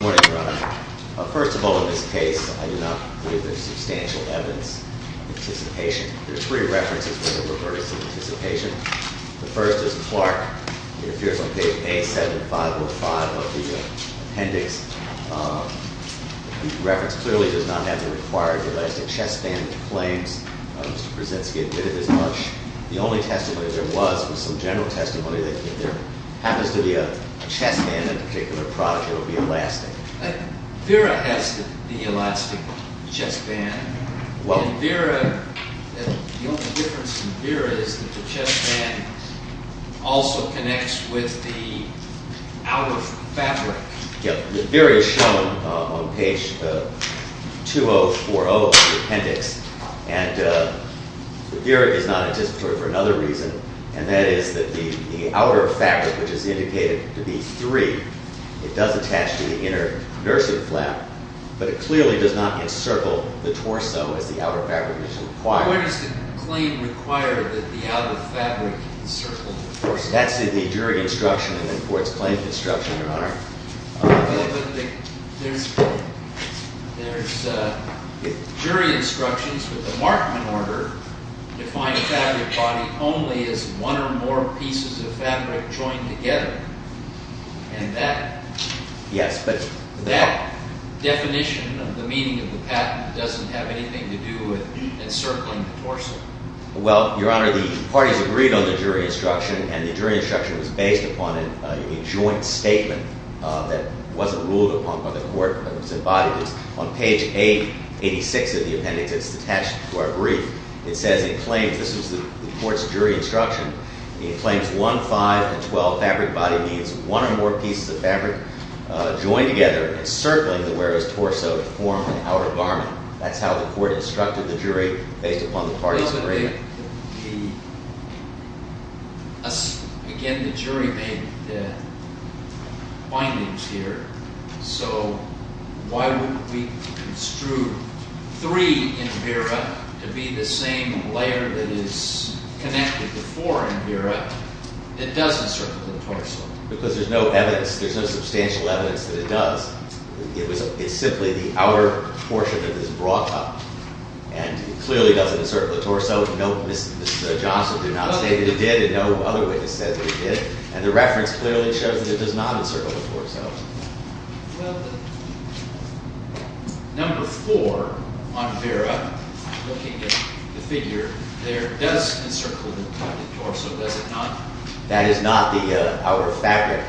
Good morning, Your Honor. First of all, in this case, I do not believe there is substantial evidence of anticipation. There are three references where there were verdicts of anticipation. The first is Clark. It appears on page A-7-505 of the appendix. The reference clearly does not have the required elastic chestband claims. Mr. Krasinski admitted as much. The only testimony there was was some general testimony that if there happens to be a chestband in a particular product, it will be elastic. Vera has the elastic chestband. The only difference from Vera is that the chestband also connects with the outer fabric. Vera is shown on page 2040 of the appendix. Vera is not anticipatory for another reason, and that is that the outer fabric, which is indicated to be three, it does attach to the inner nursing flap, but it clearly does not encircle the torso as the outer fabric is required. Where does the claim require that the outer fabric encircle the torso? That's in the jury instruction in the court's claim construction, Your Honor. There's jury instructions with the Markman order to find a fabric body only as one or more pieces of fabric joined together. And that definition of the meaning of the patent doesn't have anything to do with encircling the torso. Well, Your Honor, the parties agreed on the jury instruction, and the jury instruction was based upon a joint statement that wasn't ruled upon by the court, but was embodied on page 886 of the appendix that's attached to our brief. This was the court's jury instruction. It claims one, five, and 12 fabric body means one or more pieces of fabric joined together encircling the wearer's torso to form an outer garment. That's how the court instructed the jury based upon the parties' agreement. Again, the jury made the findings here. So why would we construe three in Vera to be the same layer that is connected to four in Vera that does encircle the torso? Because there's no evidence. There's no substantial evidence that it does. It's simply the outer portion that is brought up. And it clearly doesn't encircle the torso. No, Mrs. Johnson did not state that it did, and no other witness said that it did. And the reference clearly shows that it does not encircle the torso. Well, number four on Vera, looking at the figure there, does encircle the torso, does it not? That is not our fabric.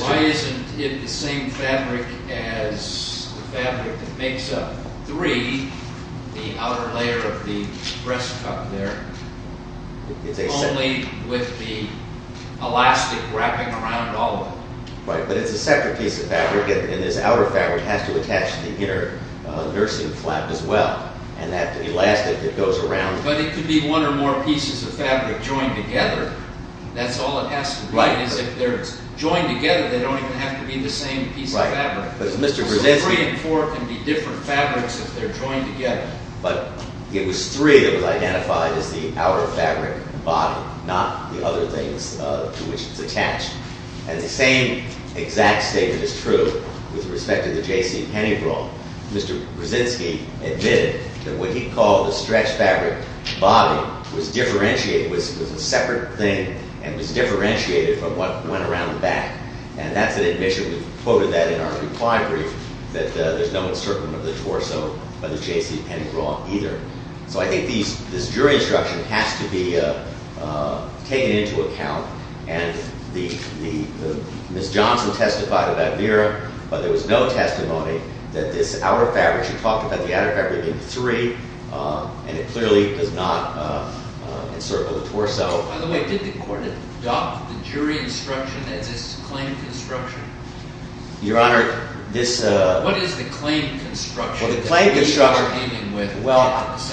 Why isn't it the same fabric as the fabric that makes up three, the outer layer of the breast cup there, only with the elastic wrapping around all of it? Right, but it's a separate piece of fabric, and this outer fabric has to attach to the inner nursing flap as well, and that elastic that goes around. But it could be one or more pieces of fabric joined together. That's all it has to be. If they're joined together, they don't even have to be the same piece of fabric. So three and four can be different fabrics if they're joined together. But it was three that was identified as the outer fabric body, not the other things to which it's attached. And the same exact statement is true with respect to the J.C. Penny brawl. Mr. Brzezinski admitted that what he called the stretch fabric body was differentiated, was a separate thing, and was differentiated from what went around the back. And that's an admission. We quoted that in our reply brief, that there's no encirclement of the torso by the J.C. Penny brawl either. So I think this jury instruction has to be taken into account. And Ms. Johnson testified about Vera. But there was no testimony that this outer fabric, she talked about the outer fabric being three, and it clearly does not encircle the torso. By the way, did the court adopt the jury instruction as its claim construction? Your Honor, this— What is the claim construction? Well, the claim construction— That we are dealing with— Well,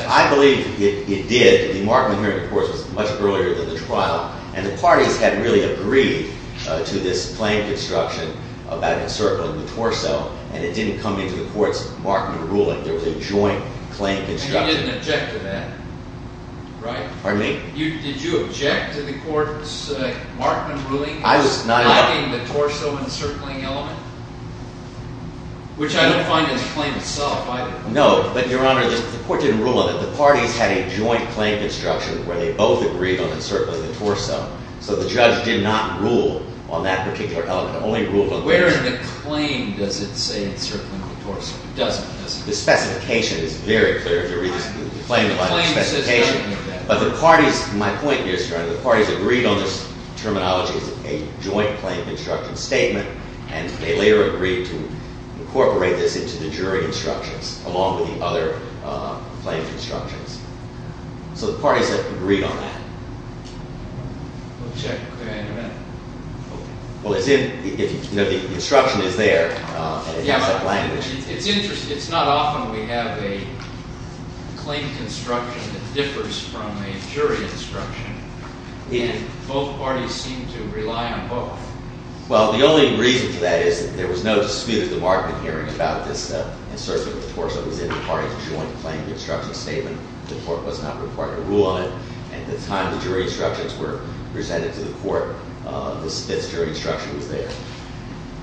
I believe it did. The Markman hearing, of course, was much earlier than the trial. And the parties had really agreed to this claim construction about encircling the torso. And it didn't come into the court's Markman ruling. There was a joint claim construction. And you didn't object to that, right? Pardon me? Did you object to the court's Markman ruling— I was not— —climbing the torso encircling element, which I don't find in the claim itself either. No. But, Your Honor, the court didn't rule on it. Well, the parties had a joint claim construction where they both agreed on encircling the torso. So the judge did not rule on that particular element. Only ruled on— Where in the claim does it say encircling the torso? It doesn't, does it? The specification is very clear. If you read the claim, you'll find the specification. But the parties—my point here, Your Honor, the parties agreed on this terminology as a joint claim construction statement. And they later agreed to incorporate this into the jury instructions along with the other claim constructions. So the parties agreed on that. We'll check with you in a minute. Well, as in, you know, the instruction is there, and it has that language. It's interesting. It's not often we have a claim construction that differs from a jury instruction. And both parties seem to rely on both. Well, the only reason for that is that there was no dispute at the bargaining hearing about this encircling the torso. It was in the parties' joint claim construction statement. The court was not required to rule on it. At the time the jury instructions were presented to the court, this jury instruction was there.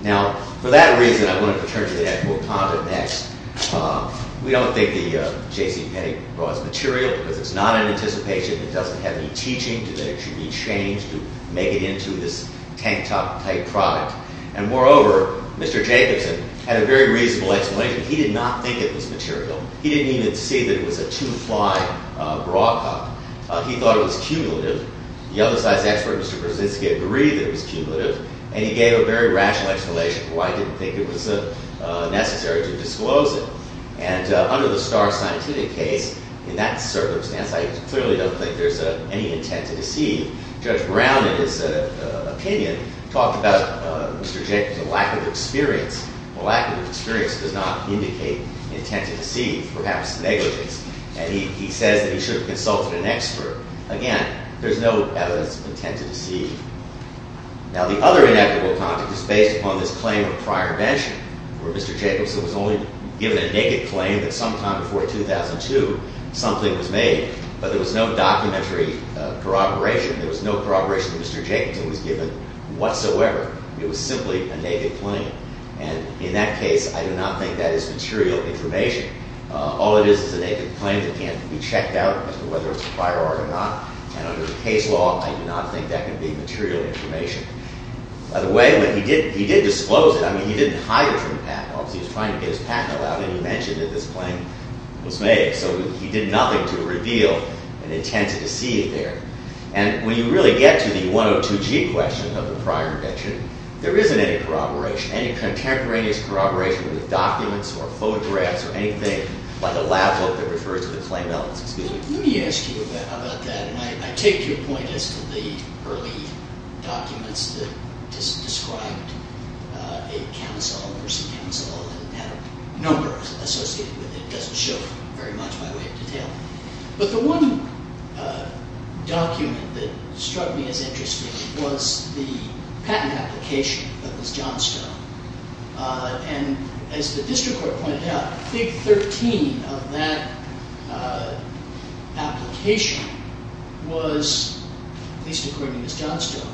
Now, for that reason, I'm going to return to the actual conduct next. We don't think that J.C. Petty brought us material because it's not in anticipation. It doesn't have any teaching that it should be changed to make it into this tank-top type product. And moreover, Mr. Jacobson had a very reasonable explanation. He did not think it was material. He didn't even see that it was a two-fly bra cup. He thought it was cumulative. The other side's expert, Mr. Brzezinski, agreed that it was cumulative. And he gave a very rational explanation for why he didn't think it was necessary to disclose it. And under the Starr Scientific case, in that circumstance, I clearly don't think there's any intent to deceive. Judge Brown, in his opinion, talked about Mr. Jacobson's lack of experience. Well, lack of experience does not indicate intent to deceive, perhaps negligence. And he says that he should have consulted an expert. Again, there's no evidence of intent to deceive. Now, the other inequitable content is based upon this claim of prior mention, where Mr. Jacobson was only given a naked claim that sometime before 2002 something was made, but there was no documentary corroboration. There was no corroboration that Mr. Jacobson was given whatsoever. It was simply a naked claim. And in that case, I do not think that is material information. All it is is a naked claim that can't be checked out as to whether it's a prior art or not. And under the case law, I do not think that can be material information. By the way, he did disclose it. I mean, he didn't hide it from the patent office. He was trying to get his patent allowed, and he mentioned that this claim was made. So he did nothing to reveal an intent to deceive there. And when you really get to the 102G question of the prior mention, there isn't any corroboration, any contemporaneous corroboration with documents or photographs or anything, like a lab book that refers to the claim elements. Let me ask you about that, and I take your point as to the early documents that described a council, a nursing council that had a number associated with it. It doesn't show very much by way of detail. But the one document that struck me as interesting was the patent application that was Johnstone. And as the district court pointed out, Fig. 13 of that application was, at least according to Johnstone,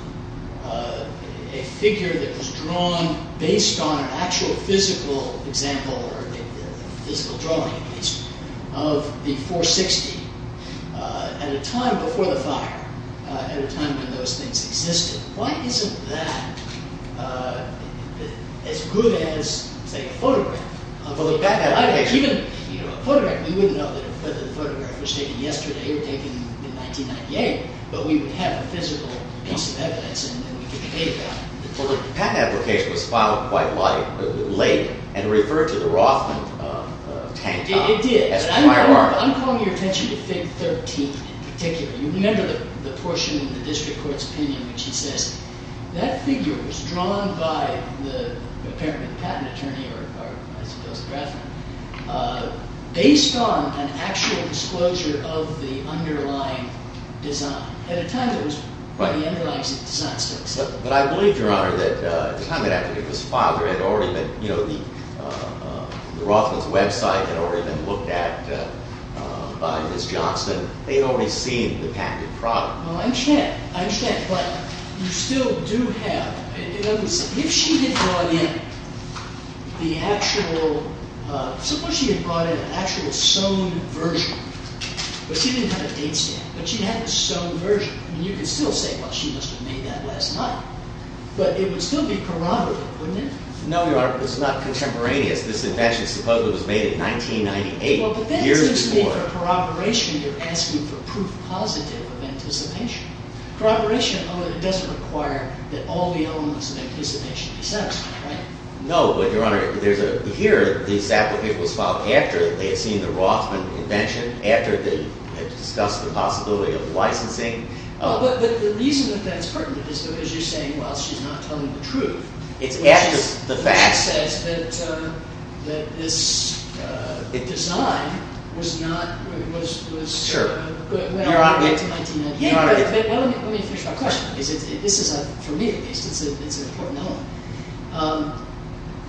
a figure that was drawn based on an actual physical example, or a physical drawing at least, of the 460 at a time before the fire, at a time when those things existed. Why isn't that as good as, say, a photograph? A photograph, we wouldn't know whether the photograph was taken yesterday or taken in 1998, but we would have a physical piece of evidence, and then we could debate that. Well, the patent application was filed quite late and referred to the Rothman tank top. It did. You remember the portion in the district court's opinion in which he says, that figure was drawn by apparently the patent attorney, or I suppose the draft attorney, based on an actual disclosure of the underlying design. At a time when it was quite the underlying design still existed. But I believe, Your Honor, that at the time that application was filed, the Rothman's website had already been looked at by Ms. Johnstone. They had already seen the patented product. Well, I understand. I understand. But you still do have, if she had brought in the actual, suppose she had brought in an actual sewn version, but she didn't have a date stamp, but she had the sewn version, you could still say, well, she must have made that last night. But it would still be corroborative, wouldn't it? No, Your Honor, it's not contemporaneous. This invention supposedly was made in 1998, years before. If it's a corroboration, you're asking for proof positive of anticipation. Corroboration doesn't require that all the elements of anticipation be satisfied, right? No, but, Your Honor, here this application was filed after they had seen the Rothman invention, after they had discussed the possibility of licensing. But the reason that that's pertinent is because you're saying, well, she's not telling the truth. It's after the fact. The fact says that this design was not, was, was, was, well, 1998. But let me finish my question. This is, for me at least, it's an important element.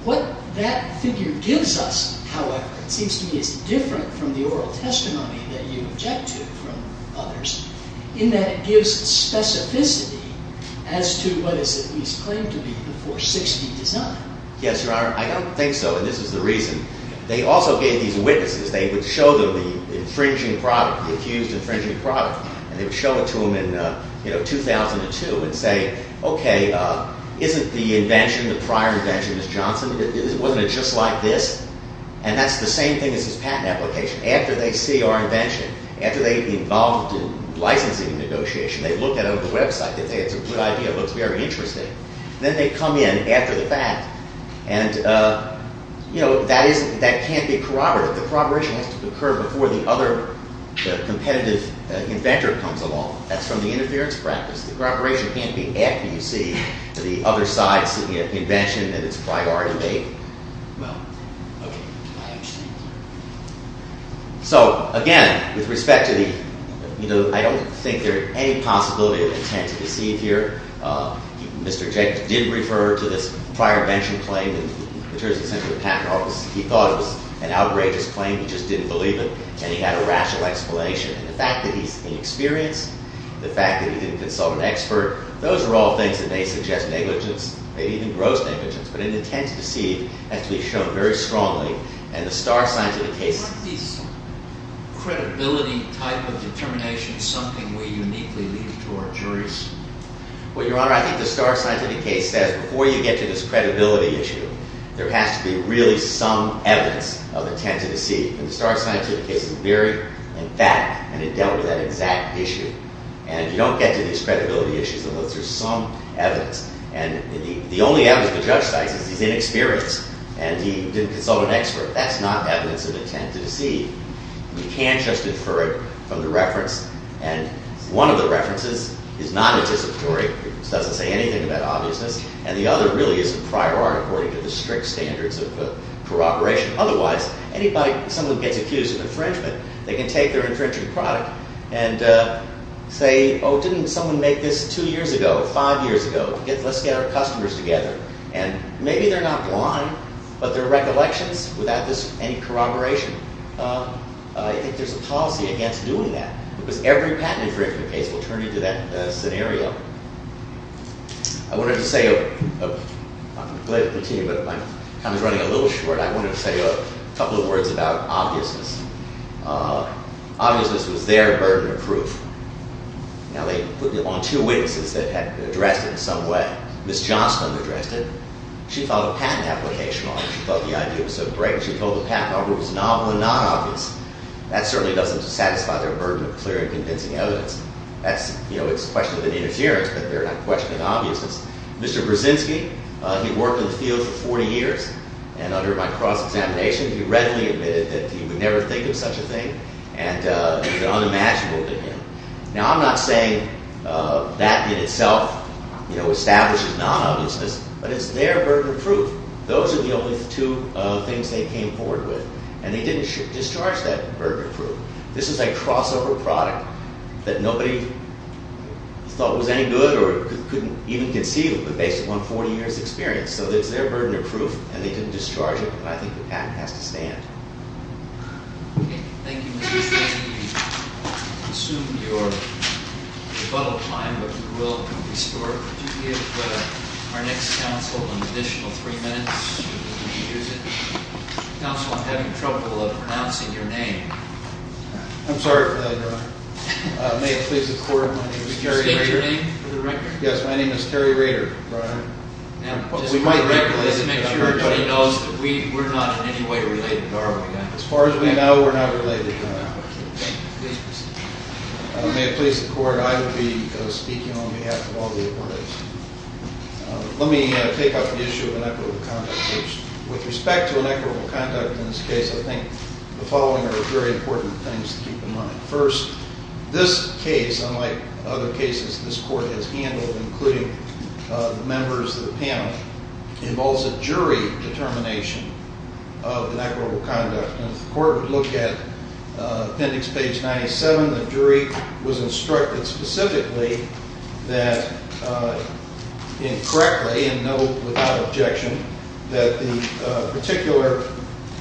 What that figure gives us, however, seems to me is different from the oral testimony that you object to from others, in that it gives specificity as to what is at least claimed to be the 460 design. Yes, Your Honor. I don't think so, and this is the reason. They also gave these witnesses. They would show them the infringing product, the accused infringing product, and they would show it to them in, you know, 2002 and say, okay, isn't the invention, the prior invention, Miss Johnson, wasn't it just like this? And that's the same thing as this patent application. After they see our invention, after they've been involved in licensing negotiation, they look at it on the website. They say it's a good idea. It looks very interesting. Then they come in after the fact. And, you know, that is, that can't be corroborated. The corroboration has to occur before the other competitive inventor comes along. That's from the interference practice. The corroboration can't be after you see the other side's invention and its prior invention. Well, okay. I understand. So, again, with respect to the, you know, I don't think there's any possibility of intent to deceive here. Mr. Jenkins did refer to this prior invention claim in terms of the patent office. He thought it was an outrageous claim. He just didn't believe it, and he had a rational explanation. And the fact that he's inexperienced, the fact that he didn't consult an expert, those are all things that may suggest negligence, maybe even gross negligence. But an intent to deceive has to be shown very strongly. And the Starr Scientific case— Aren't these credibility type of determinations something we uniquely leave to our juries? Well, Your Honor, I think the Starr Scientific case says before you get to this credibility issue, there has to be really some evidence of intent to deceive. And the Starr Scientific case is very emphatic, and it dealt with that exact issue. And if you don't get to these credibility issues, there's some evidence. And the only evidence the judge cites is he's inexperienced and he didn't consult an expert. That's not evidence of intent to deceive. You can't just infer it from the reference. And one of the references is not anticipatory. It doesn't say anything about obviousness. And the other really isn't prior art according to the strict standards of corroboration. Otherwise, anybody—if someone gets accused of infringement, they can take their infringement product and say, Oh, didn't someone make this two years ago, five years ago? Let's get our customers together. And maybe they're not blind, but their recollections, without any corroboration, I think there's a policy against doing that. Because every patent infringement case will turn into that scenario. I wanted to say—I'm glad to continue, but my time is running a little short. I wanted to say a couple of words about obviousness. Obviousness was their burden of proof. Now, they put it on two witnesses that had addressed it in some way. Ms. Johnston addressed it. She thought the patent application was obvious. She thought the idea was so great. She thought the patent offer was novel and not obvious. That certainly doesn't satisfy their burden of clear and convincing evidence. It's a question of an interference, but they're not questioning obviousness. Mr. Brzezinski, he worked in the field for 40 years, and under my cross-examination, he readily admitted that he would never think of such a thing, and it's unimaginable to him. Now, I'm not saying that in itself establishes non-obviousness, but it's their burden of proof. Those are the only two things they came forward with, and they didn't discharge that burden of proof. This is a crossover product that nobody thought was any good or couldn't even conceive of based upon 40 years' experience. So it's their burden of proof, and they didn't discharge it, but I think the patent has to stand. Okay. Thank you, Mr. Brzezinski. We've consumed your rebuttal time, but we will restore it. Could you give our next counsel an additional three minutes? Counsel, I'm having trouble pronouncing your name. I'm sorry for that, Your Honor. May it please the Court, my name is Terry Rader. State your name for the record. Yes, my name is Terry Rader, Your Honor. Now, just for the record, let's make sure everybody knows that we're not in any way related to Arwin again. As far as we know, we're not related to him. Okay. Please proceed. May it please the Court, I will be speaking on behalf of all the attorneys. Let me take up the issue of inequitable conduct, which with respect to inequitable conduct in this case, I think the following are very important things to keep in mind. First, this case, unlike other cases this Court has handled, including the members of the panel, involves a jury determination of inequitable conduct. And if the Court would look at appendix page 97, the jury was instructed specifically that, and correctly and without objection, that the particular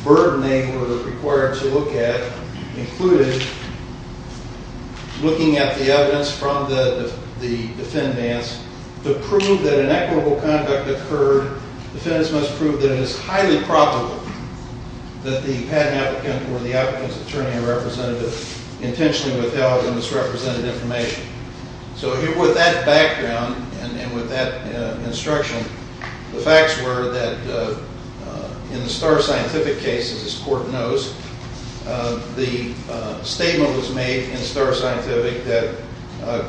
burden they were required to look at included looking at the evidence from the defendants to prove that inequitable conduct occurred. Defendants must prove that it is highly probable that the patent applicant or the applicant's attorney or representative intentionally withheld and misrepresented information. So with that background and with that instruction, the facts were that in the Starr Scientific case, as this Court knows, the statement was made in Starr Scientific that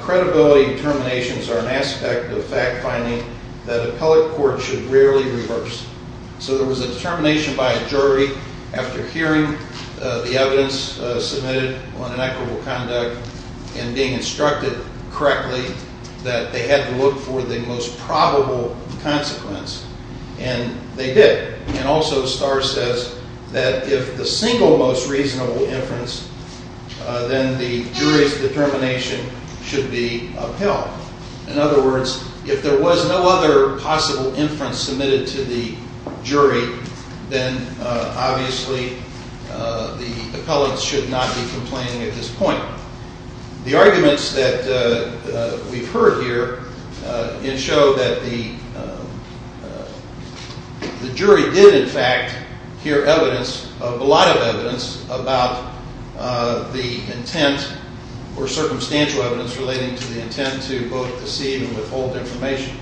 credibility determinations are an aspect of fact-finding that appellate courts should rarely reverse. So there was a determination by a jury, after hearing the evidence submitted on inequitable conduct and being instructed correctly, that they had to look for the most probable consequence. And they did. And also, Starr says that if the single most reasonable inference, then the jury's determination should be upheld. In other words, if there was no other possible inference submitted to the jury, then obviously the appellate should not be complaining at this point. The arguments that we've heard here show that the jury did, in fact, hear evidence, a lot of evidence, about the intent or circumstantial evidence relating to the intent to both deceive and withhold information.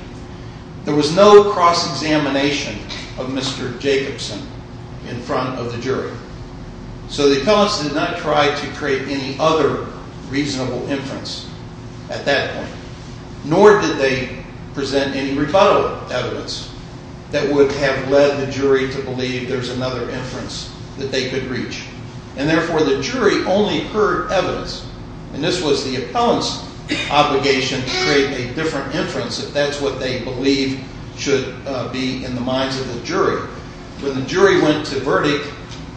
There was no cross-examination of Mr. Jacobson in front of the jury. So the appellants did not try to create any other reasonable inference at that point. Nor did they present any rebuttal evidence that would have led the jury to believe there's another inference that they could reach. And therefore, the jury only heard evidence. And this was the appellant's obligation to create a different inference if that's what they believe should be in the minds of the jury. When the jury went to verdict,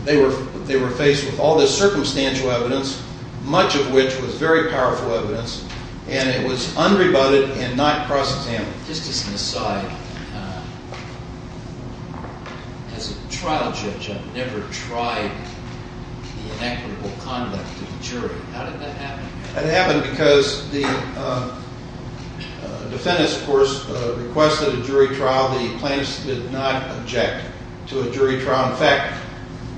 they were faced with all this circumstantial evidence, much of which was very powerful evidence, and it was unrebutted and not cross-examined. Just as an aside, as a trial judge, I've never tried the inequitable conduct of a jury. How did that happen? It happened because the defendant, of course, requested a jury trial. The plaintiffs did not object to a jury trial. In fact,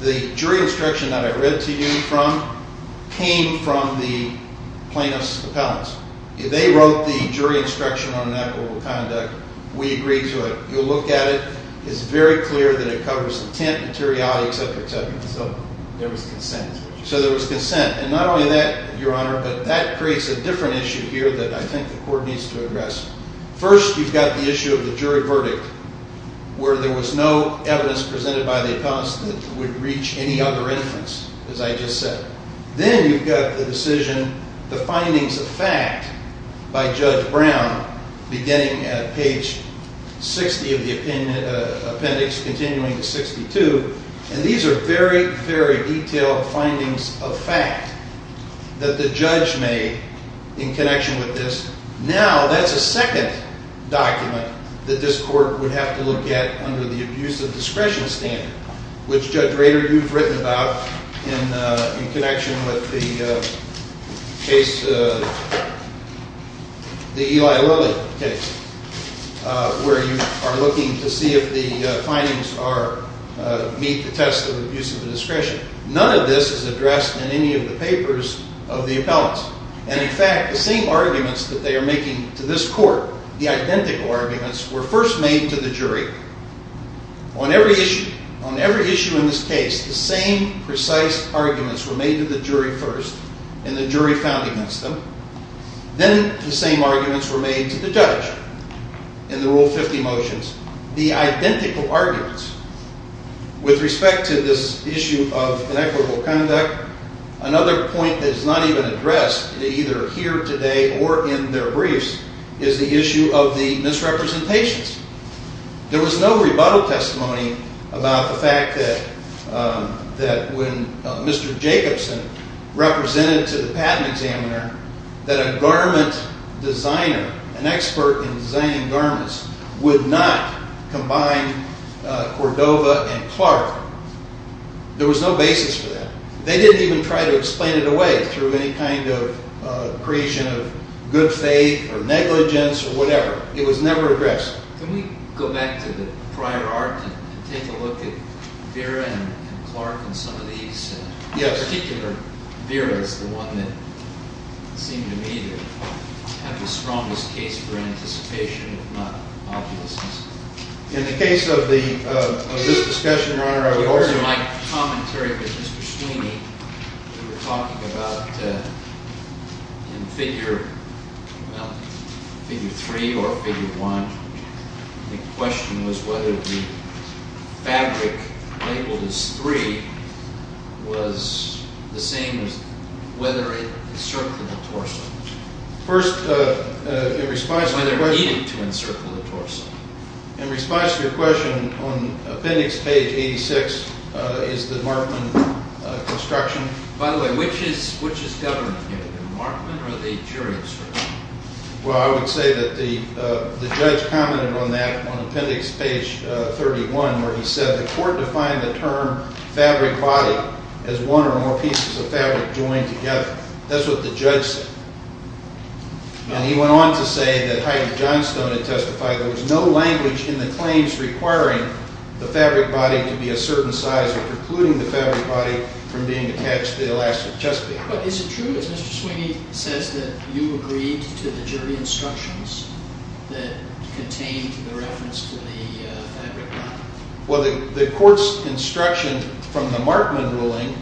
the jury instruction that I read to you from came from the plaintiffs' appellants. They wrote the jury instruction on inequitable conduct. We agreed to it. You'll look at it. It's very clear that it covers intent, materiality, etc., etc. So there was consent. So there was consent. And not only that, Your Honor, but that creates a different issue here that I think the court needs to address. First, you've got the issue of the jury verdict where there was no evidence presented by the appellants that would reach any other inference, as I just said. Then you've got the decision, the findings of fact, by Judge Brown, beginning at page 60 of the appendix, continuing to 62. And these are very, very detailed findings of fact that the judge made in connection with this. Now, that's a second document that this court would have to look at under the abuse of discretion standard, which, Judge Rader, you've written about in connection with the Eli Lilly case where you are looking to see if the findings meet the test of abuse of discretion. None of this is addressed in any of the papers of the appellants. And, in fact, the same arguments that they are making to this court, the identical arguments, were first made to the jury on every issue, on every issue in this case, the same precise arguments were made to the jury first and the jury found against them. Then the same arguments were made to the judge in the Rule 50 motions. The identical arguments with respect to this issue of inequitable conduct, another point that is not even addressed either here today or in their briefs is the issue of the misrepresentations. There was no rebuttal testimony about the fact that when Mr. Jacobson represented to the patent examiner that a garment designer, an expert in designing garments, would not combine Cordova and Clark. There was no basis for that. They didn't even try to explain it away through any kind of creation of good faith or negligence or whatever. It was never addressed. Can we go back to the prior art and take a look at Vera and Clark and some of these? Yes. In particular, Vera is the one that seemed to me to have the strongest case for anticipation, if not opulence. In the case of this discussion, Your Honor, I would argue… It wasn't my commentary, but Mr. Sweeney, you were talking about in Figure 3 or Figure 1, the question was whether the fabric labeled as 3 was the same as whether it encircled the torso. First, in response to your question… In response to your question, on appendix page 86, is the Markman construction… By the way, which is government? The Markman or the jury, sir? Well, I would say that the judge commented on that on appendix page 31 where he said the court defined the term fabric body as one or more pieces of fabric joined together. That's what the judge said. And he went on to say that Heidi Johnstone had testified that there was no language in the claims requiring the fabric body to be a certain size or precluding the fabric body from being attached to the elastic chest piece. But is it true, as Mr. Sweeney says, that you agreed to the jury instructions that contained the reference to the fabric body? Well, the court's instruction from the Markman ruling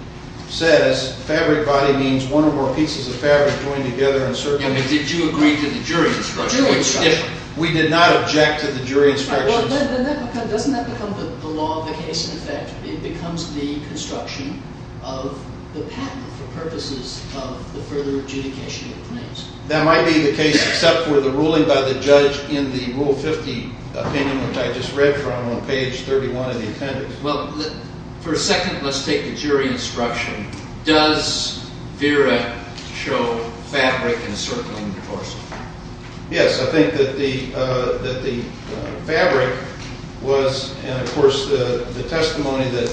says fabric body means one or more pieces of fabric joined together and circling… Did you agree to the jury instruction? We did not object to the jury instructions. Doesn't that become the law of the case, in effect? It becomes the construction of the patent for purposes of the further adjudication of the claims. That might be the case, except for the ruling by the judge in the Rule 50 opinion, which I just read from on page 31 of the appendix. Well, for a second, let's take the jury instruction. Does Vera show fabric in a circling, of course? Yes, I think that the fabric was… And, of course, the testimony that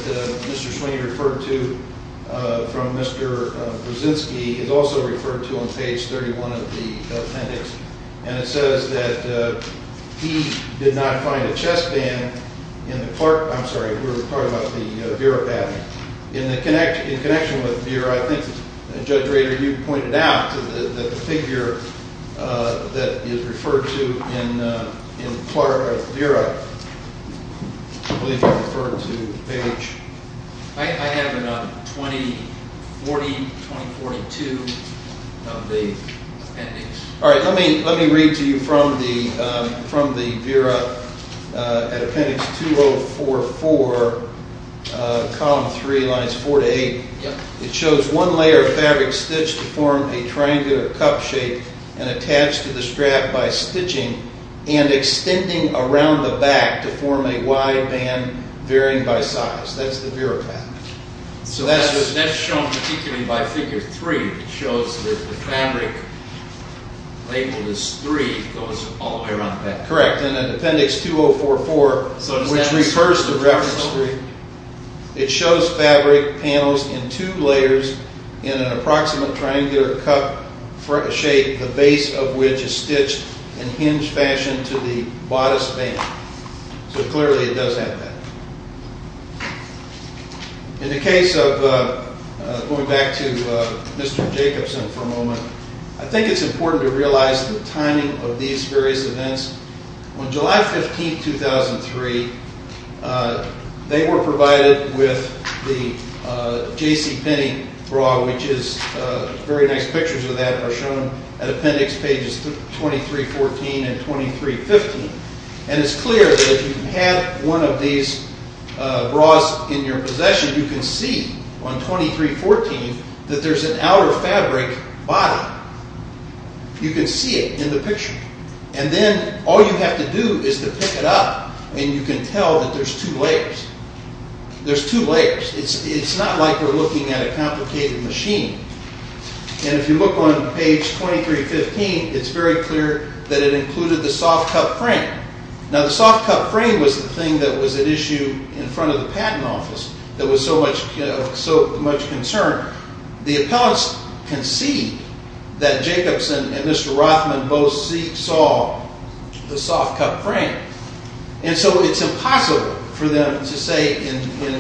Mr. Sweeney referred to from Mr. Brzezinski is also referred to on page 31 of the appendix. And it says that he did not find a chest band in the Clark… I'm sorry, we were talking about the Vera patent. In connection with Vera, I think, Judge Rader, you pointed out that the figure that is referred to in Clark, or Vera, I believe you referred to, page… I have it on 2040, 2042 of the appendix. All right. Let me read to you from the Vera appendix 2044, column 3, lines 4 to 8. It shows one layer of fabric stitched to form a triangular cup shape and attached to the strap by stitching and extending around the back to form a wide band varying by size. That's the Vera patent. That's shown particularly by figure 3. It shows that the fabric labeled as 3 goes all the way around the back. Correct. And in appendix 2044, which refers to reference 3, it shows fabric panels in two layers in an approximate triangular cup shape, the base of which is stitched in hinged fashion to the bodice band. So clearly it does have that. In the case of, going back to Mr. Jacobson for a moment, I think it's important to realize the timing of these various events. On July 15, 2003, they were provided with the J.C. Penney bra, which is very nice. Pictures of that are shown at appendix pages 2314 and 2315. And it's clear that if you have one of these bras in your possession, you can see on 2314 that there's an outer fabric body. You can see it in the picture. And then all you have to do is to pick it up, and you can tell that there's two layers. There's two layers. It's not like you're looking at a complicated machine. And if you look on page 2315, it's very clear that it included the soft cup frame. Now, the soft cup frame was the thing that was at issue in front of the patent office that was so much concern. The appellants concede that Jacobson and Mr. Rothman both saw the soft cup frame. And so it's impossible for them to say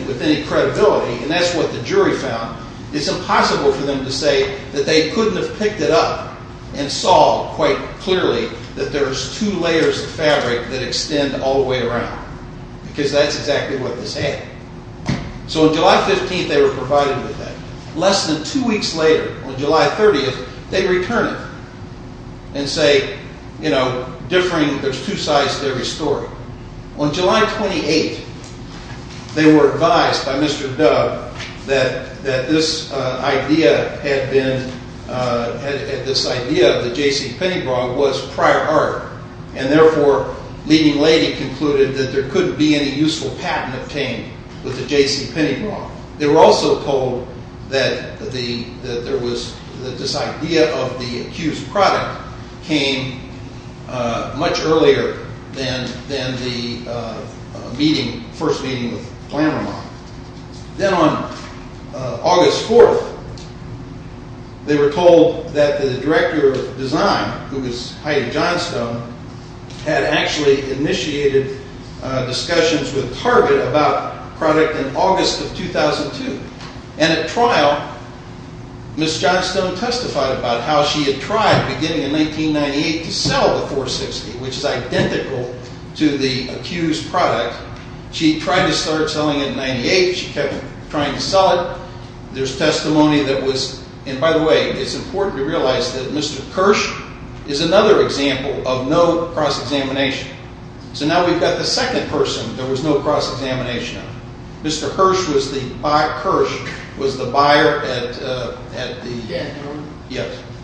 with any credibility, and that's what the jury found, it's impossible for them to say that they couldn't have picked it up and saw quite clearly that there's two layers of fabric that extend all the way around, because that's exactly what this had. So on July 15th, they were provided with that. Less than two weeks later, on July 30th, they return it and say, you know, differing, there's two sides to every story. On July 28th, they were advised by Mr. Dove that this idea had been, had this idea that J.C. Pennybrod was prior art, and therefore, leading lady concluded that there couldn't be any useful patent obtained with the J.C. Pennyrod. They were also told that this idea of the accused product came much earlier than the first meeting with Glameron. Then on August 4th, they were told that the director of design, who was Heidi Johnstone, had actually initiated discussions with Target about the product in August of 2002. And at trial, Ms. Johnstone testified about how she had tried, beginning in 1998, to sell the 460, which is identical to the accused product. She tried to start selling it in 98, she kept trying to sell it. There's testimony that was, and by the way, it's important to realize that Mr. Kirsch is another example of no cross-examination. So now we've got the second person there was no cross-examination of. Mr. Kirsch was the buyer at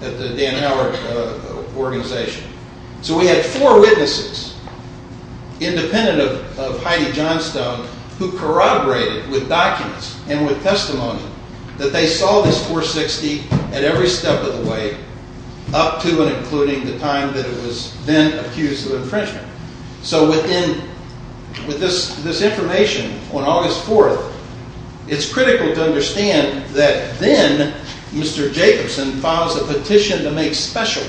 the Dan Howard organization. So we had four witnesses, independent of Heidi Johnstone, that they saw this 460 at every step of the way, up to and including the time that it was then accused of infringement. So with this information on August 4th, it's critical to understand that then Mr. Jacobson files a petition to make special.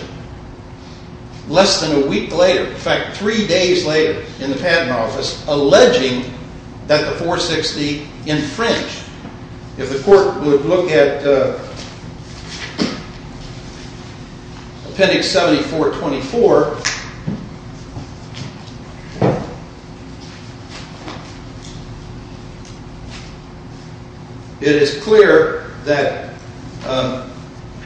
Less than a week later, in fact three days later in the patent office, alleging that the 460 infringed. If the court would look at appendix 74-24, it is clear that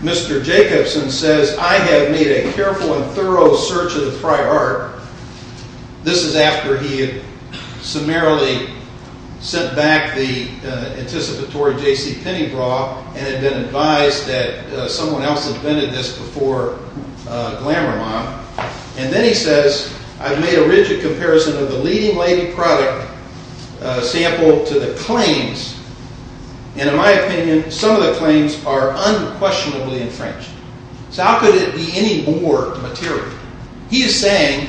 Mr. Jacobson says, I have made a careful and thorough search of the prior art. This is after he had summarily sent back the anticipatory JCPenney bra and had been advised that someone else had vented this before GlamourMob. And then he says, I've made a rigid comparison of the leading lady product sample to the claims. And in my opinion, some of the claims are unquestionably infringed. So how could it be any more material? He is saying,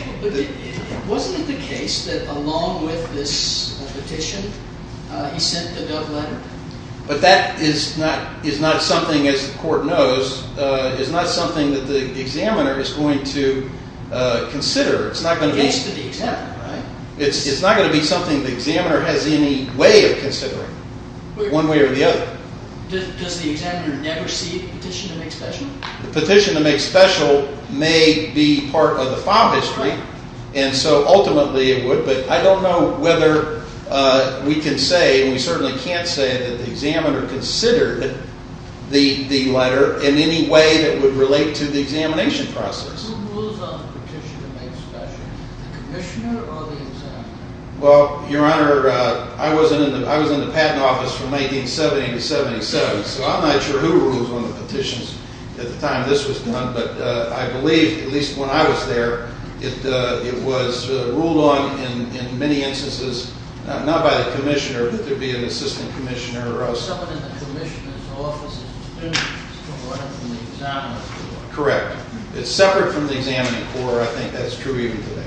wasn't it the case that along with this petition, he sent the Dove letter? But that is not something, as the court knows, is not something that the examiner is going to consider. It's not going to be something the examiner has any way of considering, one way or the other. Does the examiner never see a petition to make special? The petition to make special may be part of the file history, and so ultimately it would. But I don't know whether we can say, and we certainly can't say that the examiner considered the letter in any way that would relate to the examination process. Who rules on the petition to make special, the commissioner or the examiner? Well, Your Honor, I was in the patent office from 1970 to 1977, so I'm not sure who rules on the petitions at the time this was done. But I believe, at least when I was there, it was ruled on in many instances, not by the commissioner, but there would be an assistant commissioner or else. Separate from the commissioner's office, it's separate from the examiner's office. Correct. It's separate from the examiner's court. I think that's true even today.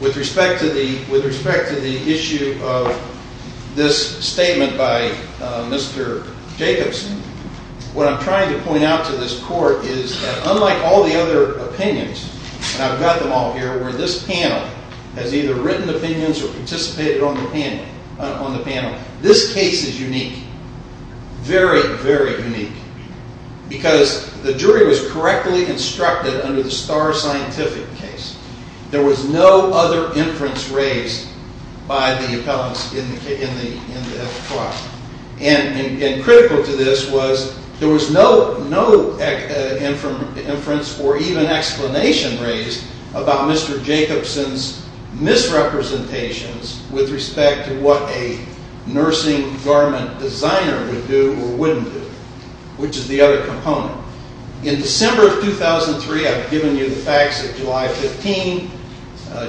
With respect to the issue of this statement by Mr. Jacobson, what I'm trying to point out to this court is that, unlike all the other opinions, and I've got them all here, where this panel has either written opinions or participated on the panel, this case is unique. Very, very unique. Because the jury was correctly instructed under the Starr Scientific case. There was no other inference raised by the appellants in the trial. And critical to this was there was no inference or even explanation raised about Mr. Jacobson's misrepresentations with respect to what a nursing garment designer would do or wouldn't do, which is the other component. In December of 2003, I've given you the facts of July 15,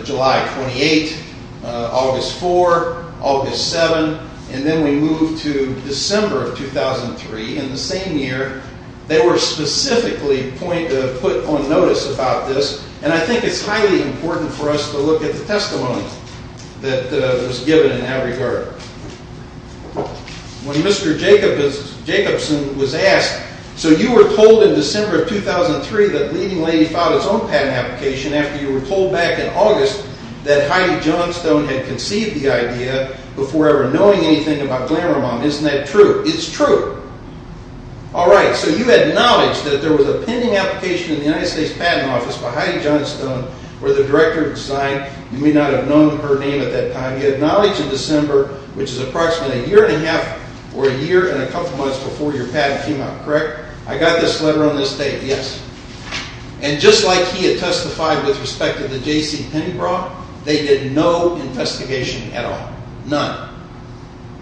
July 28, August 4, August 7, and then we move to December of 2003. In the same year, they were specifically put on notice about this, and I think it's highly important for us to look at the testimony that was given in that regard. When Mr. Jacobson was asked, so you were told in December of 2003 that Leading Lady filed its own patent application after you were told back in August that Heidi Johnstone had conceived the idea before ever knowing anything about Glamour Mom. Isn't that true? It's true. All right, so you had knowledge that there was a pending application in the United States Patent Office by Heidi Johnstone, where the director had signed. You may not have known her name at that time. You had knowledge in December, which is approximately a year and a half or a year and a couple months before your patent came out, correct? I got this letter on this date, yes. And just like he had testified with respect to the JCPenney bra, they did no investigation at all, none.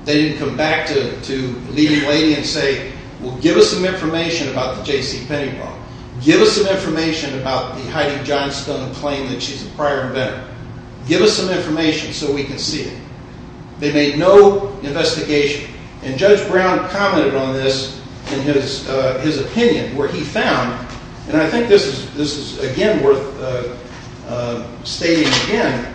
They didn't come back to Leading Lady and say, well, give us some information about the JCPenney bra. Give us some information about the Heidi Johnstone claim that she's a prior inventor. Give us some information so we can see it. They made no investigation. And Judge Brown commented on this in his opinion, where he found, and I think this is, again, worth stating again,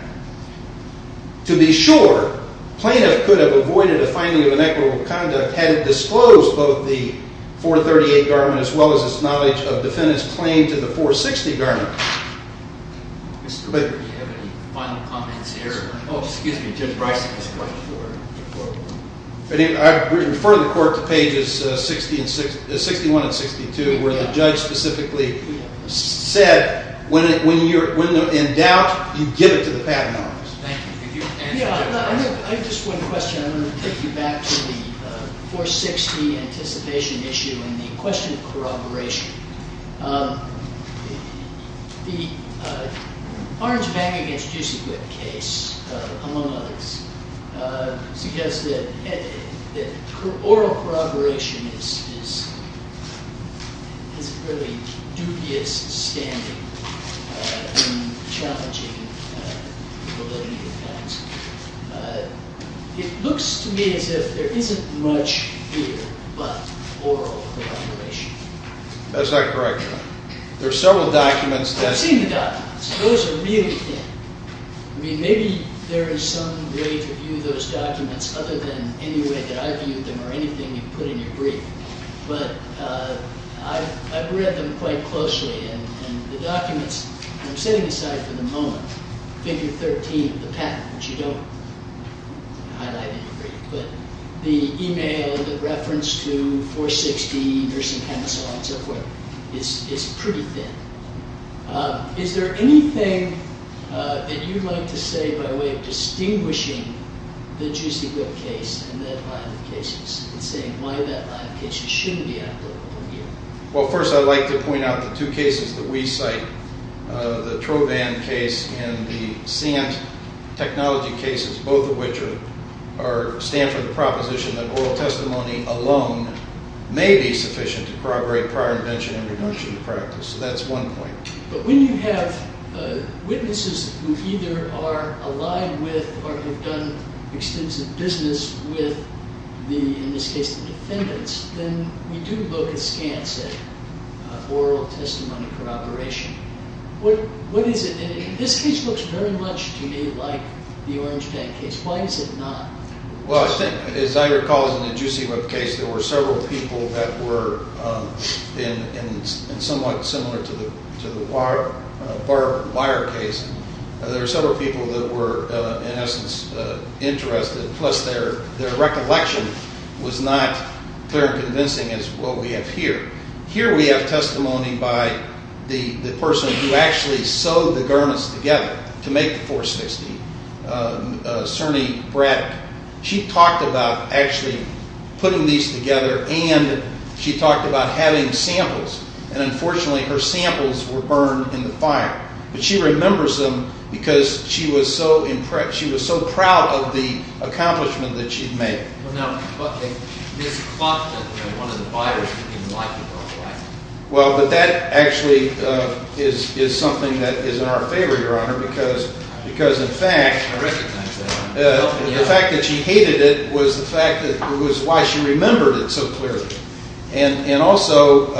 to be sure, plaintiff could have avoided a finding of inequitable conduct had it disclosed both the 438 garment as well as its knowledge of defendant's claim to the 460 garment. Do you have any final comments here? Oh, excuse me, Judge Bryson has a question for you. I refer the court to pages 61 and 62 where the judge specifically said, when in doubt, you give it to the patent office. Thank you. I have just one question. I'm going to take you back to the 460 anticipation issue and the question of corroboration. The Orange-Bagging-Against-Juicy-Whip case, among others, suggests that oral corroboration has a fairly dubious standing in challenging the validity of the facts. It looks to me as if there isn't much here but oral corroboration. That's not correct. There are several documents that… I've seen the documents. Those are really thin. I mean, maybe there is some way to view those documents other than any way that I viewed them or anything you put in your brief. But I've read them quite closely, and the documents, I'm setting aside for the moment, figure 13, the patent, which you don't highlight in your brief, but the email, the reference to 460 or some kind of so on and so forth, is pretty thin. Is there anything that you'd like to say by way of distinguishing the Juicy Whip case and that line of cases and saying why that line of cases shouldn't be applicable here? Well, first I'd like to point out the two cases that we cite, the Trovan case and the SANT technology cases, both of which stand for the proposition that oral testimony alone may be sufficient to corroborate prior invention and reduction in practice. So that's one point. But when you have witnesses who either are aligned with or have done extensive business with, in this case, the defendants, then we do look at SCANTS, at oral testimony corroboration. What is it? This case looks very much to me like the Orange Tank case. Why is it not? Well, as I recall, in the Juicy Whip case, there were several people that were somewhat similar to the Wire case. There were several people that were, in essence, interested, plus their recollection was not clear and convincing as what we have here. Here we have testimony by the person who actually sewed the garments together to make the Force 60, Cerny Braddock. She talked about actually putting these together and she talked about having samples, and unfortunately her samples were burned in the fire. But she remembers them because she was so proud of the accomplishment that she'd made. Now, this cloth that one of the buyers didn't even like, what was it like? Well, but that actually is something that is in our favor, Your Honor, because in fact, the fact that she hated it was the fact that it was why she remembered it so clearly. And also,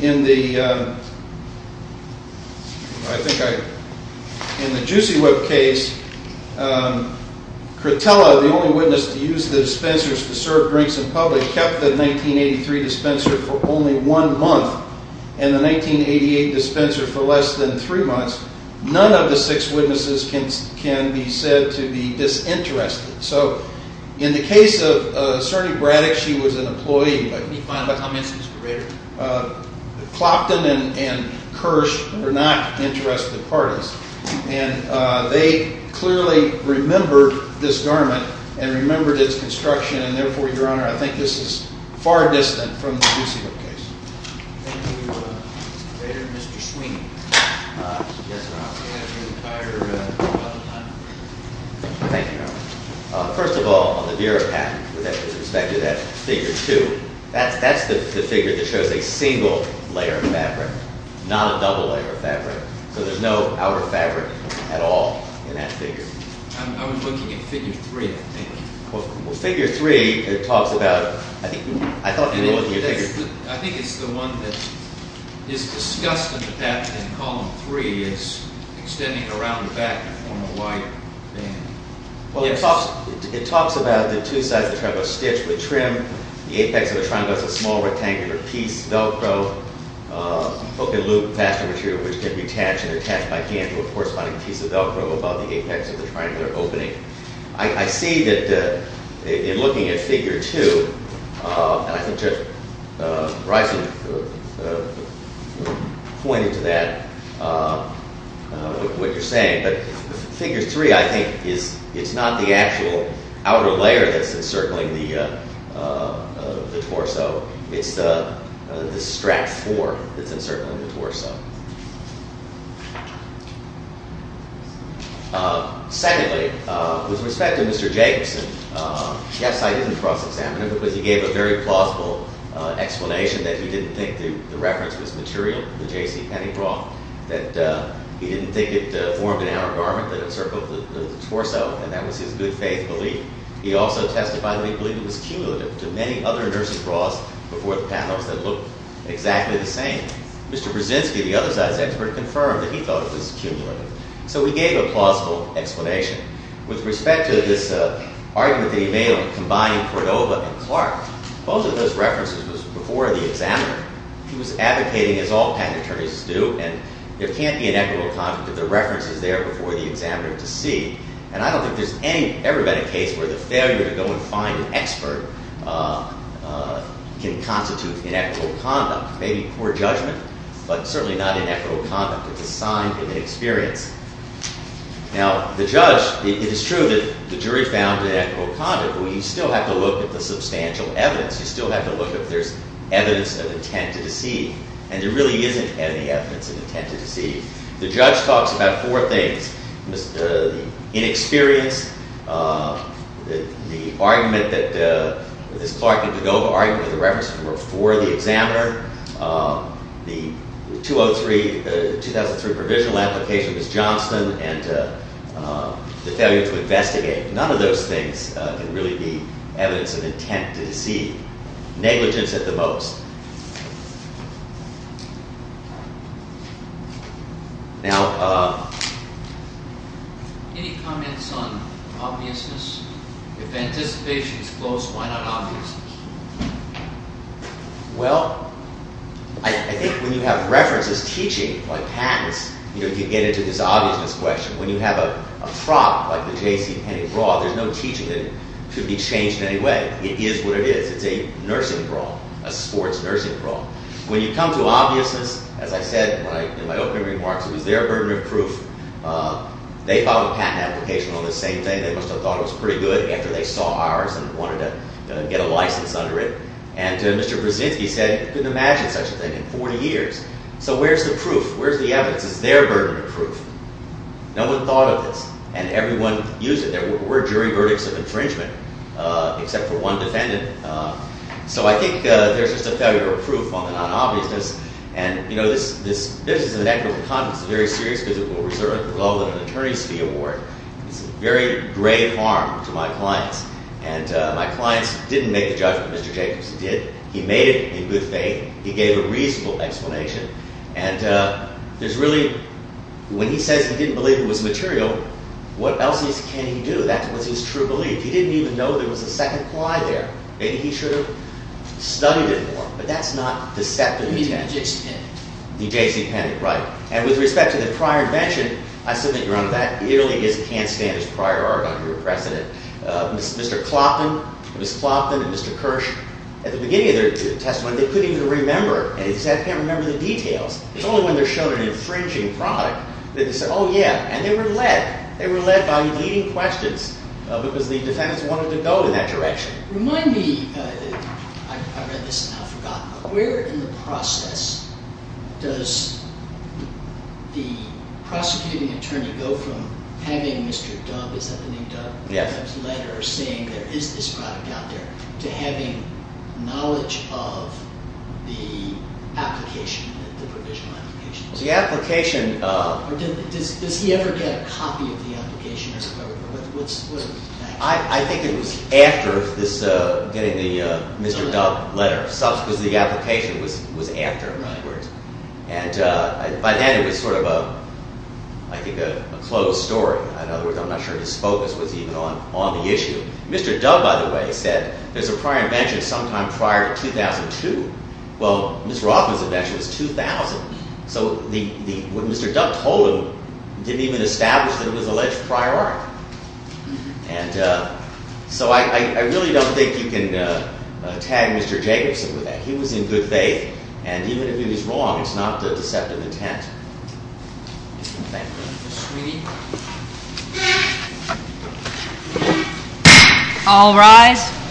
in the Juicy Whip case, Crotella, the only witness to use the dispensers to serve drinks in public, kept the 1983 dispenser for only one month and the 1988 dispenser for less than three months. None of the six witnesses can be said to be disinterested. So, in the case of Cerny Braddock, she was an employee, but Clopton and Kirsch were not interested parties. And they clearly remembered this garment and remembered its construction, and therefore, Your Honor, I think this is far distant from the Juicy Whip case. Thank you, Mr. Braddock. Mr. Sweeney. Yes, Your Honor. Do you have your entire time? Thank you, Your Honor. First of all, on the Bureau Patent, with respect to that figure two, that's the figure that shows a single layer of fabric, not a double layer of fabric. So there's no outer fabric at all in that figure. I'm looking at figure three, I think. Well, figure three, it talks about, I think, I thought you were looking at figure three. I think it's the one that is discussed in column three, it's extending around the back in the form of a wide band. Well, it talks about the two sides of the triangle stitched with trim, the apex of the triangle is a small rectangular piece, Velcro, open-loop fastener material which can be attached, and attached by hand to a corresponding piece of Velcro about the apex of the triangular opening. I see that in looking at figure two, and I think Judge Bryson pointed to that with what you're saying, but figure three, I think, it's not the actual outer layer that's encircling the torso. It's the strap form that's encircling the torso. Secondly, with respect to Mr. Jacobson, yes, I didn't cross-examine him, because he gave a very plausible explanation that he didn't think the reference was material, the JCPenney bra, that he didn't think it formed an outer garment that encircled the torso, and that was his good faith belief. He also testified that he believed it was cumulative to many other nursing bras before the patent office that looked exactly the same. Mr. Brzezinski, the other side's expert, confirmed that he thought it was cumulative. So he gave a plausible explanation. With respect to this argument that he made on combining Cordova and Clark, both of those references was before the examiner. He was advocating, as all patent attorneys do, and there can't be an equitable conflict if the reference is there before the examiner to see, and I don't think there's ever been a case where the failure to go and find an expert can constitute inequitable conduct. Maybe poor judgment, but certainly not inequitable conduct. It's a sign of inexperience. Now, the judge... It is true that the jury found inequitable conduct, but you still have to look at the substantial evidence. You still have to look if there's evidence of intent to deceive, and there really isn't any evidence of intent to deceive. The judge talks about four things. The inexperience, the argument that... This Clark and Cordova argument are the references that were before the examiner. The 2003 provisional application was Johnston and the failure to investigate. None of those things can really be evidence of intent to deceive. Negligence at the most. Now... Any comments on obviousness? If anticipation is close, why not obviousness? Well, I think when you have references, teaching, like patents, you get into this obviousness question. When you have a prop like the J.C. Penney bra, there's no teaching that could be changed in any way. It is what it is. It's a nursing bra, a sports bra, a sports nursing bra. When you come to obviousness, as I said in my opening remarks, it was their burden of proof. They filed a patent application on the same thing. They must have thought it was pretty good after they saw ours and wanted to get a license under it. And Mr. Brzezinski said he couldn't imagine such a thing in 40 years. So where's the proof? Where's the evidence? It's their burden of proof. No one thought of this, and everyone used it. There were jury verdicts of infringement, except for one defendant. So I think there's just a failure of proof on the non-obviousness. And, you know, this is in the net worth of confidence. It's very serious because it will result in an attorney's fee award. It's a very grave harm to my clients. And my clients didn't make the judgment Mr. Jacobs did. He made it in good faith. He gave a reasonable explanation. And there's really... When he says he didn't believe it was material, what else can he do? That was his true belief. He didn't even know there was a second ply there. Maybe he should have studied it more. But that's not the step that he took. D.J. C. Penney. D.J. C. Penney, right. And with respect to the prior invention, I submit, Your Honor, that really is can't-stand-as-prior-argument precedent. Mr. Clopton, Ms. Clopton and Mr. Kirsch, at the beginning of their testimony, they couldn't even remember. They said, I can't remember the details. It's only when they're shown an infringing product that they say, oh, yeah. And they were led. They were led by leading questions because the defendants wanted to go in that direction. Remind me, I read this and now I've forgotten, where in the process does the prosecuting attorney go from having Mr. Dubb, is that the name Dubb? Yes. His letter saying there is this product out there, to having knowledge of the application, the provisional application? The application... Does he ever get a copy of the application? I think it was after getting the Mr. Dubb letter, because the application was after, in other words. And by then it was sort of a, I think, a closed story. In other words, I'm not sure his focus was even on the issue. Mr. Dubb, by the way, said there's a prior invention sometime prior to 2002. Well, Ms. Rothman's invention was 2000. So what Mr. Dubb told him didn't even establish that it was alleged prior art. And so I really don't think you can tag Mr. Jacobson with that. He was in good faith. And even if he was wrong, it's not the deceptive intent. Thank you. Thank you, sweetie. All rise.